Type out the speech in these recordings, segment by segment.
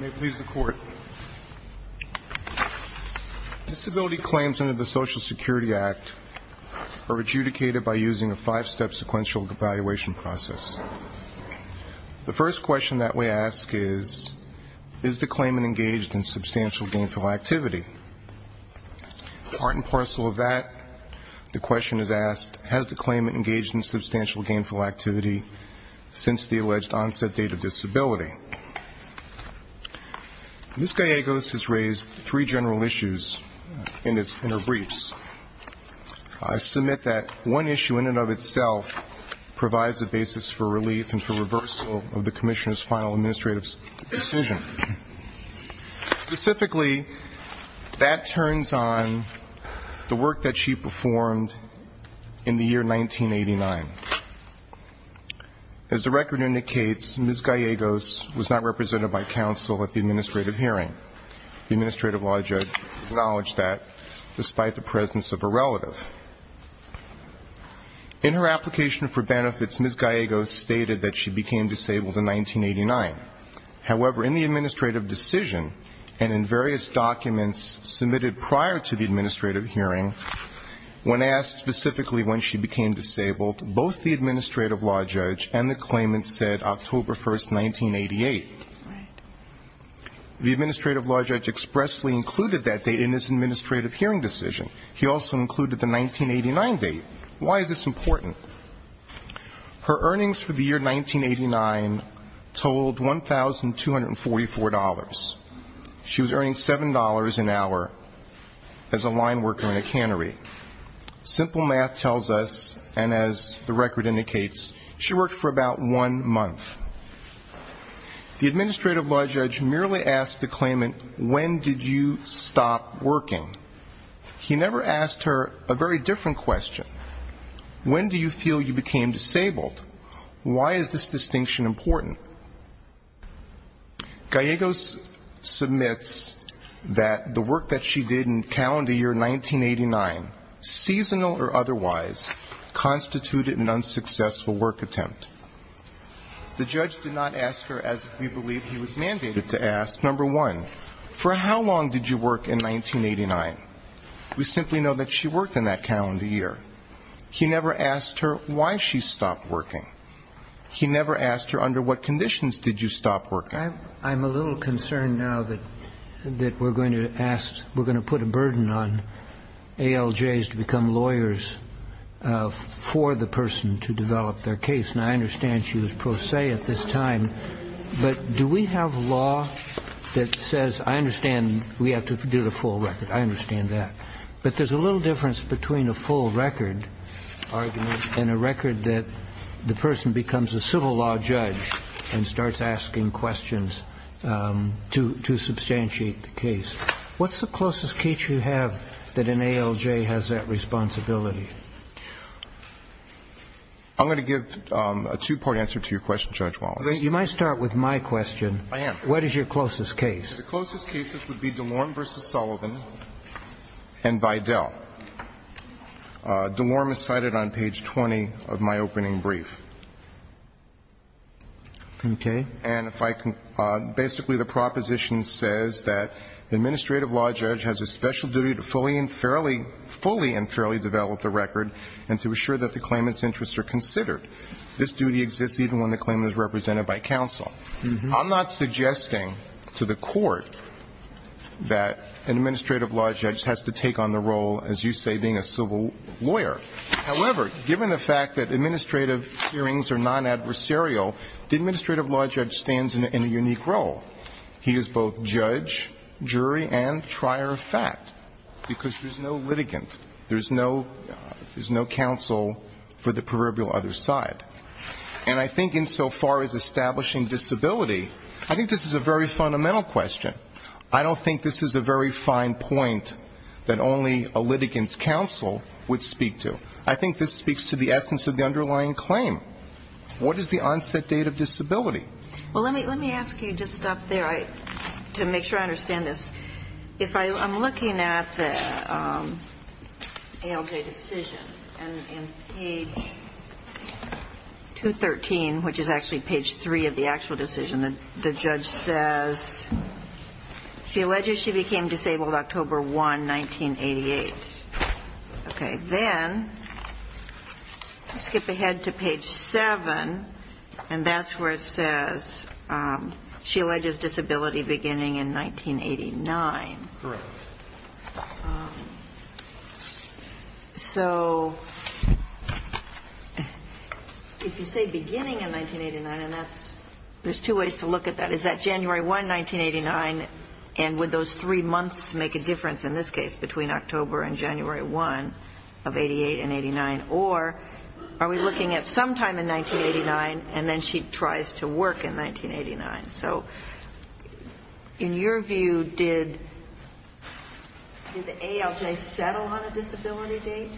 May it please the Court. Disability claims under the Social Security Act are adjudicated by using a five step sequential evaluation process. The first question that we ask is, is the claimant engaged in substantial gainful activity. Part and parcel of that the question is asked, has the claimant engaged in substantial gainful activity since the alleged onset date of disability? Ms. Gallegos has raised three general issues in her briefs. I submit that one issue in and of itself provides a basis for relief and for reversal of the Commissioner's final administrative decision. Specifically, that turns on the work that she performed in the year 1989. As the record indicates, Ms. Gallegos was not represented by counsel at the administrative hearing. The administrative law judge acknowledged that despite the presence of a relative. In her application for benefits, Ms. Gallegos stated that she became disabled in 1989. However, in the administrative decision and in various documents submitted prior to the administrative hearing, when asked specifically when she became disabled, both the administrative law judge and the claimant said October 1, 1988. The administrative law judge expressly included that date in his administrative hearing decision. He also included the 1989 date. Why is this important? Her earnings for the year 1989 totaled $1,244. She was earning $7.00 an hour as a line worker in a cannery. Simple math tells us, and as the record indicates, she worked for about one month. The administrative law judge merely asked the claimant, when did you stop working? He never asked her a very different question. When do you feel you became disabled? Why is this distinction important? Gallegos submits that the work that she did in calendar year 1989, seasonal or otherwise, constituted an unsuccessful work attempt. The judge did not ask her as we believe he was mandated to ask, number one, for how long did you work in 1989? We simply know that she worked in that calendar year. He never asked her why she stopped working. He never asked her under what conditions did you stop working. I'm a little concerned now that we're going to ask, we're going to put a burden on ALJs to become lawyers for the person to develop their case. And I understand she was pro se at this time, but do we have law that says, I understand we have to do the full record. I understand that. But there's a little difference between a full record argument and a record that the person becomes a civil law judge and starts asking questions to substantiate the case. What's the closest case you have that an ALJ has that responsibility? I'm going to give a two-part answer to your question, Judge Wallace. You might start with my question. I am. What is your closest case? The closest cases would be DeLorme v. Sullivan and Vidal. DeLorme is cited on page 20 of my opening brief. Okay. And if I can – basically the proposition says that the administrative law judge has a special duty to fully and fairly – fully and fairly develop the record and to assure that the claimant's interests are considered. This duty exists even when the claimant is represented by counsel. I'm not suggesting to the Court that an administrative law judge has to take on the role, as you say, being a civil lawyer. However, given the fact that administrative hearings are non-adversarial, the administrative law judge stands in a unique role. He is both judge, jury, and trier of fact, because there's no litigant. There's no – there's no counsel for the proverbial other side. And I think insofar as establishing disability, I think this is a very fundamental question. I don't think this is a very fine point that only a litigant's counsel would speak to. I think this speaks to the essence of the underlying claim. What is the onset date of disability? Well, let me – let me ask you, just up there, to make sure I understand this. If I – I'm looking at the ALJ decision, and in page 213, which is actually page 3 of the actual decision, the judge says, she alleges she became disabled October 1, 1988. Okay. Then, skip ahead to page 7, and then I'm going to ask you to look at page 7, and that's where it says, she alleges disability beginning in 1989. Correct. So if you say beginning in 1989, and that's – there's two ways to look at that. Is that January 1, 1989, and would those three months make a difference in this case, between October and January 1 of 88 and 89? Or are we looking at sometime in 1989, and then she tries to work in 1989? So in your view, did – did the ALJ settle on a disability date?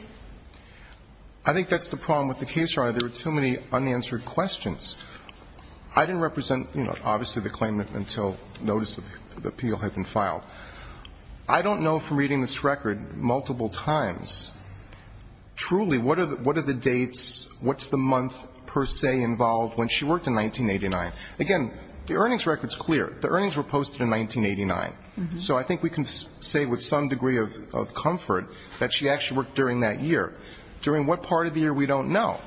I think that's the problem with the case, Your Honor. There are too many unanswered questions. I didn't represent, you know, obviously, the claimant until notice of appeal had been filed. I don't know, from reading this record multiple times, truly, what are the – what are the dates, what's the month, per se, involved when she worked in 1989? Again, the earnings record is clear. The earnings were posted in 1989. So I think we can say with some degree of comfort that she actually worked during that year. During what part of the year, we don't know.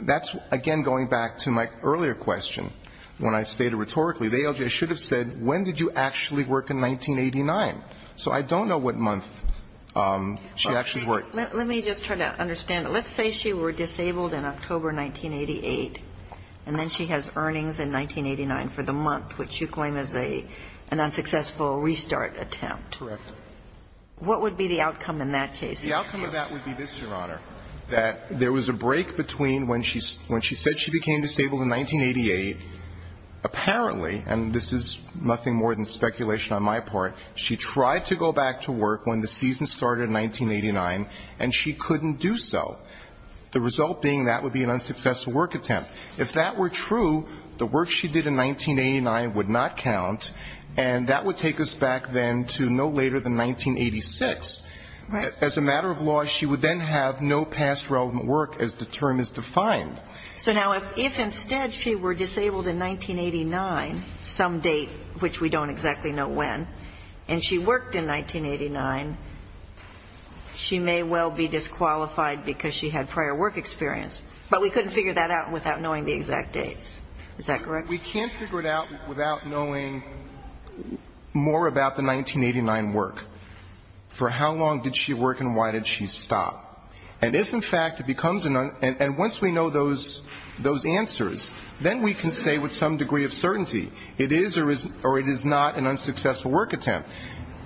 That's, again, going back to my earlier question, when I stated rhetorically, the ALJ should have said, when did you actually work in 1989? So I don't know what month she actually worked. Let me just try to understand. Let's say she were disabled in October 1988, and then she has earnings in 1989 for the month, which you claim is an unsuccessful restart attempt. Correct. What would be the outcome in that case? The outcome of that would be this, Your Honor, that there was a break between when she said she became disabled in 1988, apparently, and this is nothing more than speculation on my part, she tried to go back to work when the season started in 1989, and she couldn't do so, the result being that would be an unsuccessful work attempt. If that were true, the work she did in 1989 would not count, and that would take us back then to no later than 1986. Right. As a matter of law, she would then have no past relevant work as the term is defined. So now if instead she were disabled in 1989, some date, which we don't exactly know when, and she worked in 1989, she may well be disqualified because she had prior work experience. But we couldn't figure that out without knowing the exact dates. Is that correct? We can't figure it out without knowing more about the 1989 work, for how long did she work and why did she stop. And if, in fact, it becomes an uncertainty, and once we know those answers, then we can say with some degree of certainty it is or is not an unsuccessful work attempt.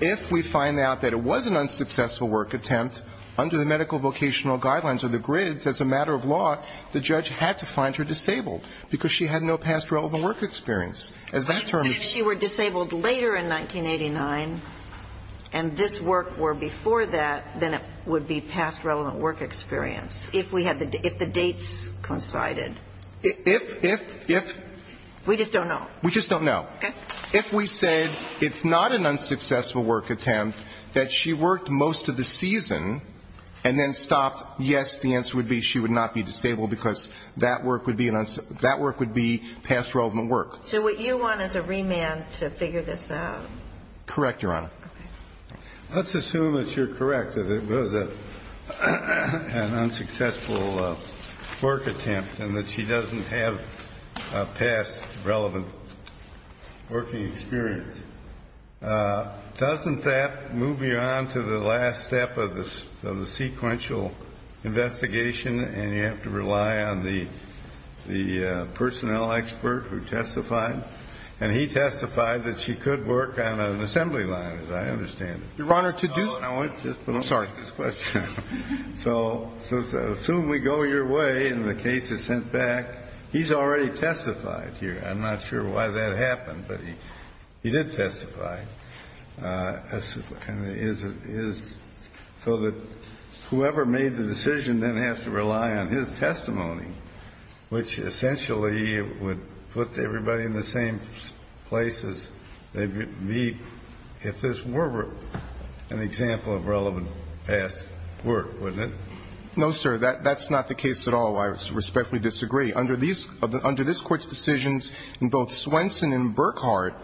If we find out that it was an unsuccessful work attempt, under the medical vocational guidelines or the grids, as a matter of law, the judge had to find her disabled, because she had no past relevant work experience. As that term is defined. But if she were disabled later in 1989, and this work were before that, then it would be past relevant work experience, if the dates coincided. If, if, if. We just don't know. We just don't know. Okay. If we said it's not an unsuccessful work attempt, that she worked most of the season and then stopped, yes, the answer would be she would not be disabled because that work would be an unsuccessful, that work would be past relevant work. So what you want is a remand to figure this out. Correct, Your Honor. Okay. Let's assume that you're correct, that it was an unsuccessful work attempt and that she doesn't have a past relevant working experience. Doesn't that move you on to the last step of the, of the sequential investigation and you have to rely on the, the personnel expert who testified? And he testified that she could work on an assembly line, as I understand it. Your Honor, to do. Oh, and I want to just put up with this question. I'm sorry. So assume we go your way and the case is sent back. He's already testified here. I'm not sure why that happened, but he did testify. So that whoever made the decision then has to rely on his testimony, which essentially would put everybody in the same place as they meet if this were an example of relevant past work, wouldn't it? No, sir. That's not the case at all. I respectfully disagree. Under this Court's decisions in both Swenson and Burkhardt,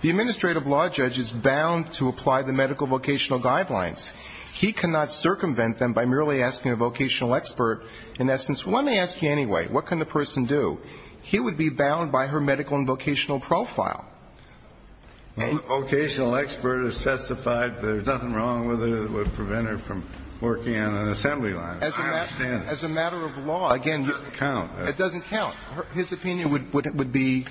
the administrative law judge is bound to apply the medical vocational guidelines. He cannot circumvent them by merely asking a vocational expert, in essence, well, let me ask you anyway, what can the person do? He would be bound by her medical and vocational profile. Well, the vocational expert has testified. There's nothing wrong with it. It would prevent her from working on an assembly line. As a matter of law. It doesn't count. It doesn't count. His opinion would be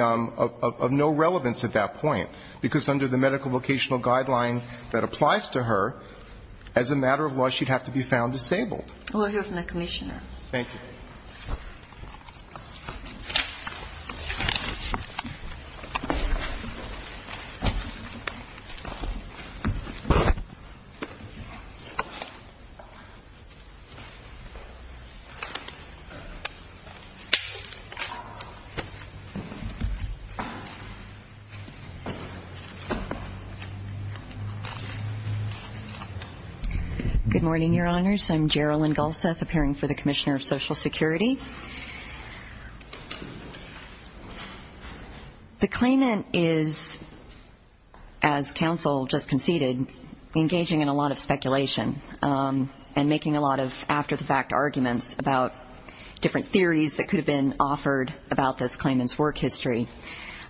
of no relevance at that point, because under the medical vocational guideline that applies to her, as a matter of law, she'd have to be found disabled. We'll hear from the Commissioner. Thank you. Good morning, Your Honors. I'm Gerilyn Gulseth, appearing for the Commissioner of Social Security. The claimant is, as counsel just conceded, engaging in a lot of speculation and making a lot of after-the-fact arguments about different theories that could have been offered about this claimant's work history.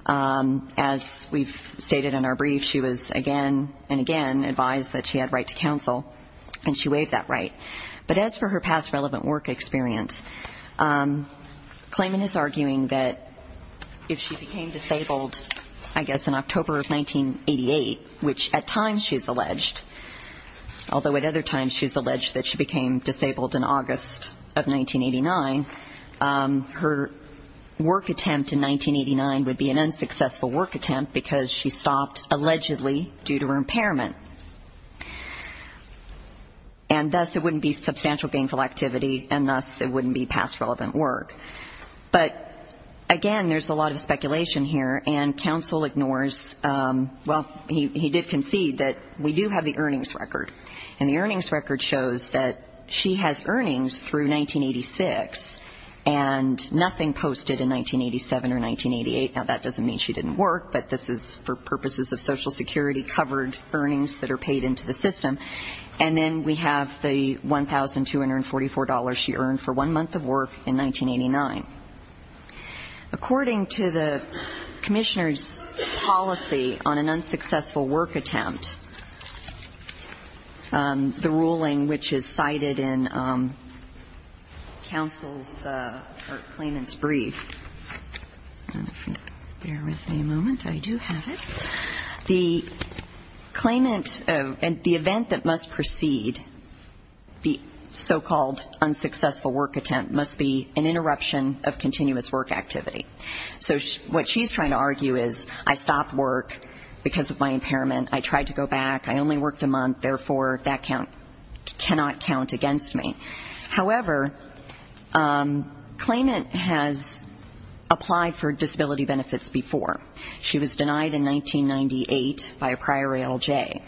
As we've stated in our brief, she was again and again advised that she had right to counsel, and she waived that right. But as for her past relevant work experience, the claimant is arguing that if she became disabled, I guess, in October of 1988, which at times she's alleged, although at other times she's alleged that she became disabled in August of 1989, her work attempt in 1989 would be an unsuccessful work attempt, because she stopped, allegedly, due to her impairment. And thus it wouldn't be substantial gainful activity, and thus it wouldn't be past relevant work. But, again, there's a lot of speculation here, and counsel ignores, well, he did concede that we do have the earnings record, and the earnings record shows that she has earnings through 1986, and nothing posted in 1987 or 1988. Now, that doesn't mean she didn't work, but this is for purposes of Social Security-covered earnings that are paid into the system. And then we have the $1,244 she earned for one month of work in 1989. According to the Commissioner's policy on an unsuccessful work attempt, the ruling which is cited in counsel's or claimant's brief, bear with me a moment, I do have it, the claimant, the event that must precede the so-called unsuccessful work attempt must be an interruption of continuous work activity. So what she's trying to argue is I stopped work because of my impairment, I tried to go back, I only worked a month, therefore that count cannot count against me. However, claimant has applied for disability benefits before. She was denied in 1998 by a prior ALJ.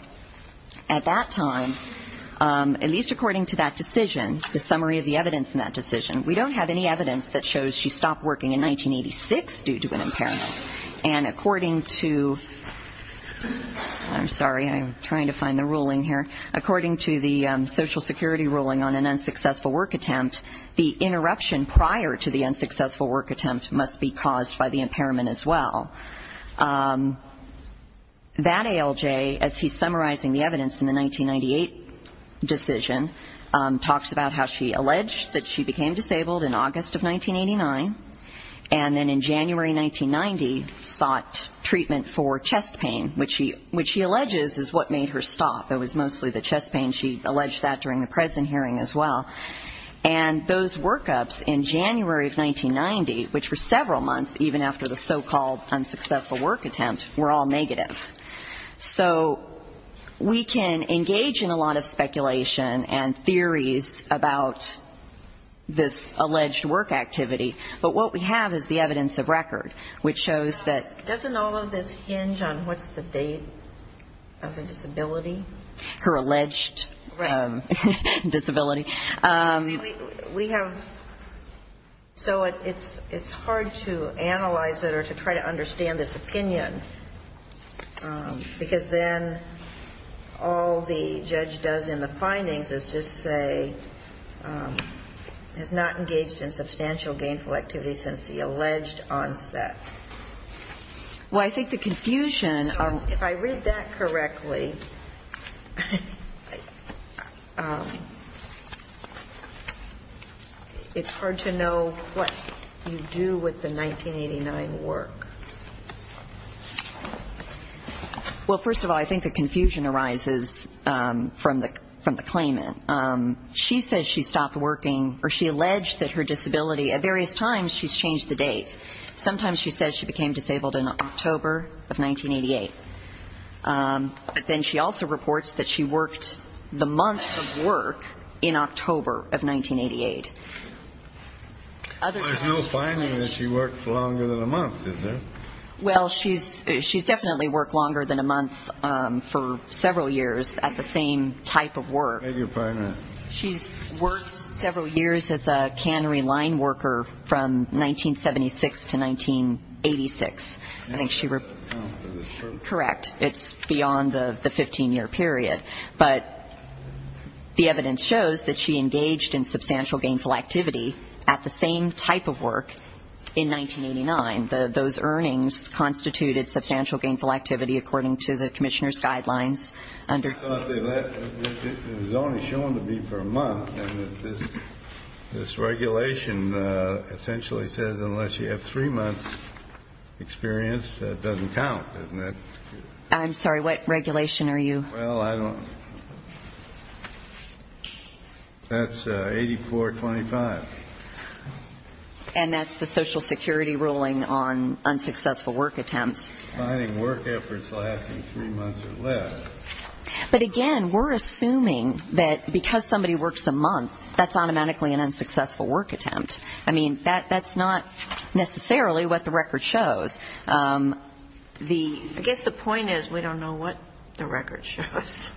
At that time, at least according to that decision, the summary of the evidence in that decision, we don't have any evidence that shows she stopped working in 1986 due to an impairment. And according to, I'm sorry, I'm trying to find the ruling here. According to the Social Security ruling on an unsuccessful work attempt, the interruption prior to the unsuccessful work attempt must be caused by the impairment as well. That ALJ, as he's summarizing the evidence in the 1998 decision, talks about how she alleged that she became disabled in August of 1989, and then in January 1990 sought treatment for chest pain, which he alleges is what made her stop. It was mostly the chest pain. She alleged that during the present hearing as well. And those workups in January of 1990, which were several months, even after the so-called unsuccessful work attempt, were all negative. So we can engage in a lot of speculation and theories about this alleged work activity, but what we have is the evidence of record, which shows that... Doesn't all of this hinge on what's the date of the disability? Her alleged disability. Right. We have so it's hard to analyze it or to try to understand this opinion, because then all the judge does in the findings is just say has not engaged in substantial gainful activity since the alleged onset. Well, I think the confusion... So if I read that correctly, it's hard to know what you do with the 1989 work. Well, first of all, I think the confusion arises from the claimant. She says she stopped working, or she alleged that her disability, at various times she's changed the date. Sometimes she says she became disabled in October of 1988. But then she also reports that she worked the month of work in October of 1988. There's no finding that she worked longer than a month, is there? Well, she's definitely worked longer than a month for several years at the same type of work. She's worked several years as a cannery line worker from 1976 to 1986. Correct. It's beyond the 15-year period. But the evidence shows that she engaged in substantial gainful activity at the same type of work in 1989. Those earnings constituted substantial gainful activity, according to the commissioner's guidelines. It was only shown to me for a month. And this regulation essentially says unless you have three months' experience, that doesn't count, doesn't it? I'm sorry, what regulation are you... Well, I don't... That's 8425. And that's the Social Security ruling on unsuccessful work attempts. Finding work efforts lasting three months or less. But again, we're assuming that because somebody works a month, that's automatically an unsuccessful work attempt. I mean, that's not necessarily what the record shows. I guess the point is we don't know what the record shows.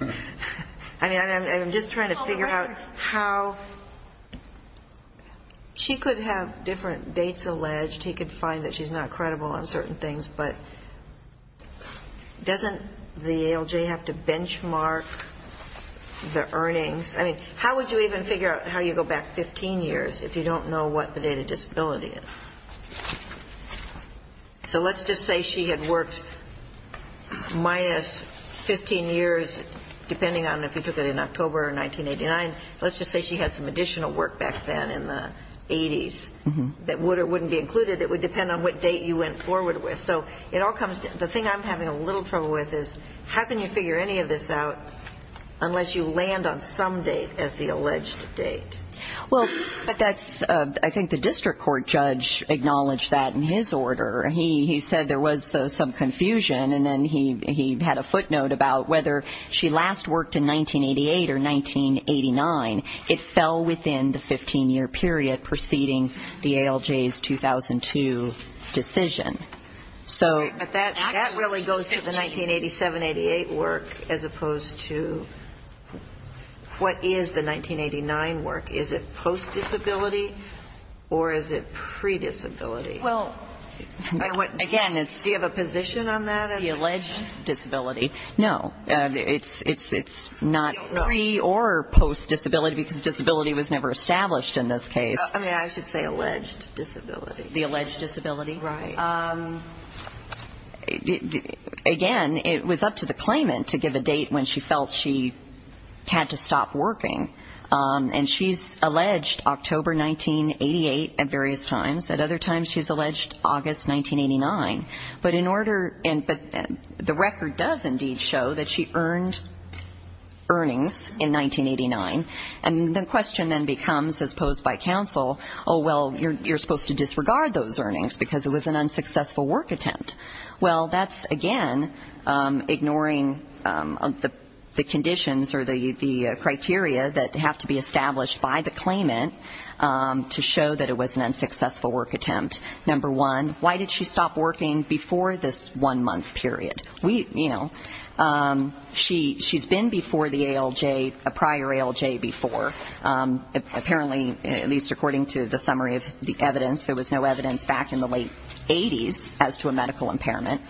I mean, I'm just trying to figure out how... She could have different dates alleged. He could find that she's not credible on certain things, but doesn't the ALJ have to benchmark the earnings? I mean, how would you even figure out how you go back 15 years if you don't know what the date of disability is? So let's just say she had worked minus 15 years, depending on if you took it in October of 1989. Let's just say she had some additional work back then in the 80s that would or wouldn't be included. It would depend on what date you went forward with. So it all comes down... The thing I'm having a little trouble with is how can you figure any of this out unless you land on some date as the alleged date? Well, that's... I think the district court judge acknowledged that in his order. He said there was some confusion, and then he had a footnote about whether she last worked in 1988 or 1989. It fell within the 15-year period preceding the ALJ's 2002 decision. But that really goes to the 1987-88 work as opposed to what is the 1989 work. Is it post-disability or is it pre-disability? Well, again, it's... Do you have a position on that? The alleged disability. No. It's not pre- or post-disability, because disability was never established in this case. I mean, I should say alleged disability. The alleged disability. Again, it was up to the claimant to give a date when she felt she had to stop working. And she's alleged October 1988 at various times. At other times she's alleged August 1989. But in order... But the record does indeed show that she earned earnings in 1989. And the question then becomes, as posed by counsel, oh, well, you're supposed to disregard those earnings because it was an unsuccessful work attempt. Well, that's, again, ignoring the conditions or the criteria that have to be established by the claimant to show that it was an unsuccessful work attempt. Number one, why did she stop working before this one-month period? She's been before the ALJ, a prior ALJ before. Apparently, at least according to the summary of the evidence, there was no evidence back in the late 80s as to a medical impairment.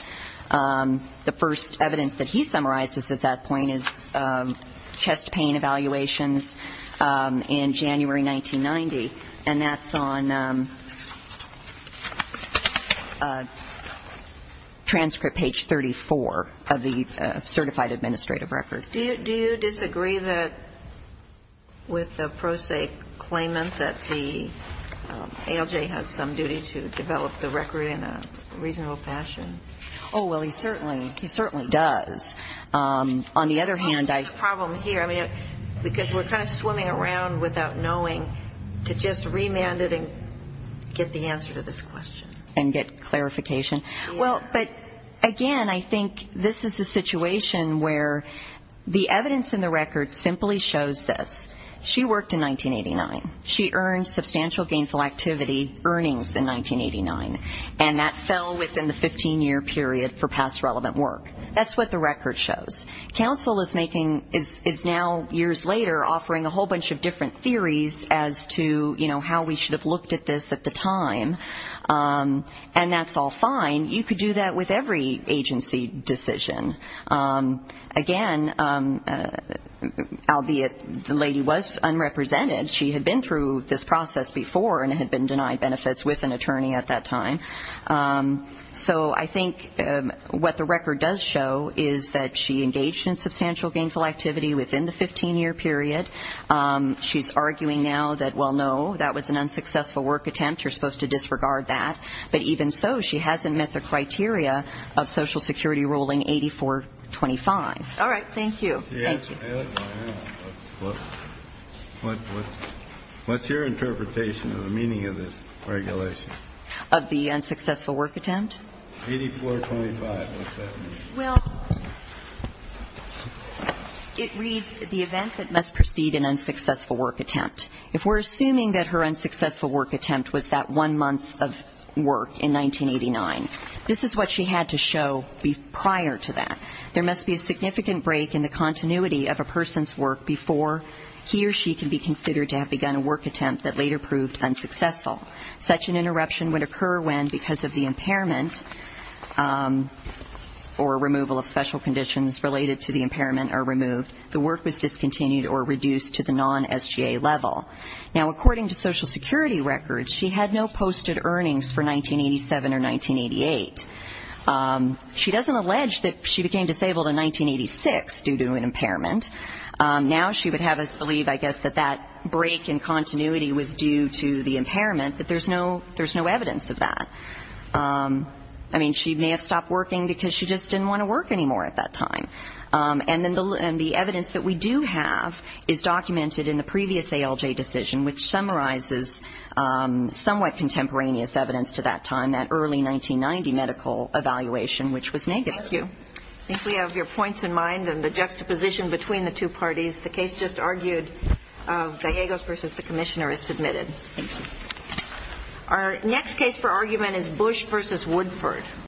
The first evidence that he summarizes at that point is chest pain evaluations in January 1990. And that's on transcript page 34 of the certified administrative record. Do you disagree with the pro se claimant that the ALJ has some duty to develop the record in a reasonable fashion? Oh, well, he certainly does. On the other hand, I... What's the problem here? I mean, because we're kind of swimming around without knowing to just remand it and get the answer to this question. And get clarification. Well, but again, I think this is a situation where the evidence in the record simply shows this. She worked in 1989. She earned substantial gainful activity earnings in 1989. And that fell within the 15-year period for past relevant work. That's what the record shows. Counsel is now, years later, offering a whole bunch of different theories as to how we should have looked at this at the time. And that's all fine. You could do that with every agency decision. Again, albeit the lady was unrepresented. She had been through this process before and had been denied benefits with an attorney at that time. So I think what the record does show is that she engaged in substantial gainful activity within the 15-year period. She's arguing now that, well, no, that was an unsuccessful work attempt. You're supposed to disregard that. But even so, she hasn't met the criteria of Social Security ruling 8425. All right. Thank you. What's your interpretation of the meaning of this regulation? Of the unsuccessful work attempt? Well, it reads the event that must precede an unsuccessful work attempt. If we're assuming that her unsuccessful work attempt was that one month of work in 1989, this is what she had to show prior to that. There must be a significant break in the continuity of a person's work before he or she can be considered to have begun a work attempt that later proved unsuccessful. Such an interruption would occur when, because of the impairment or removal of special conditions related to the impairment are removed, the work was discontinued or reduced to the non-SGA level. Now, according to Social Security records, she had no posted earnings for 1987 or 1988. She doesn't allege that she became disabled in 1986 due to an impairment. Now she would have us believe, I guess, that that break in continuity was due to the impairment, but there's no evidence of that. I mean, she may have stopped working because she just didn't want to work anymore at that time. And the evidence that we do have is documented in the previous ALJ decision, which summarizes somewhat contemporaneous evidence to that time, that early 1990 medical evaluation, which was negative. Thank you. Our next case for argument is Bush v. Woodford.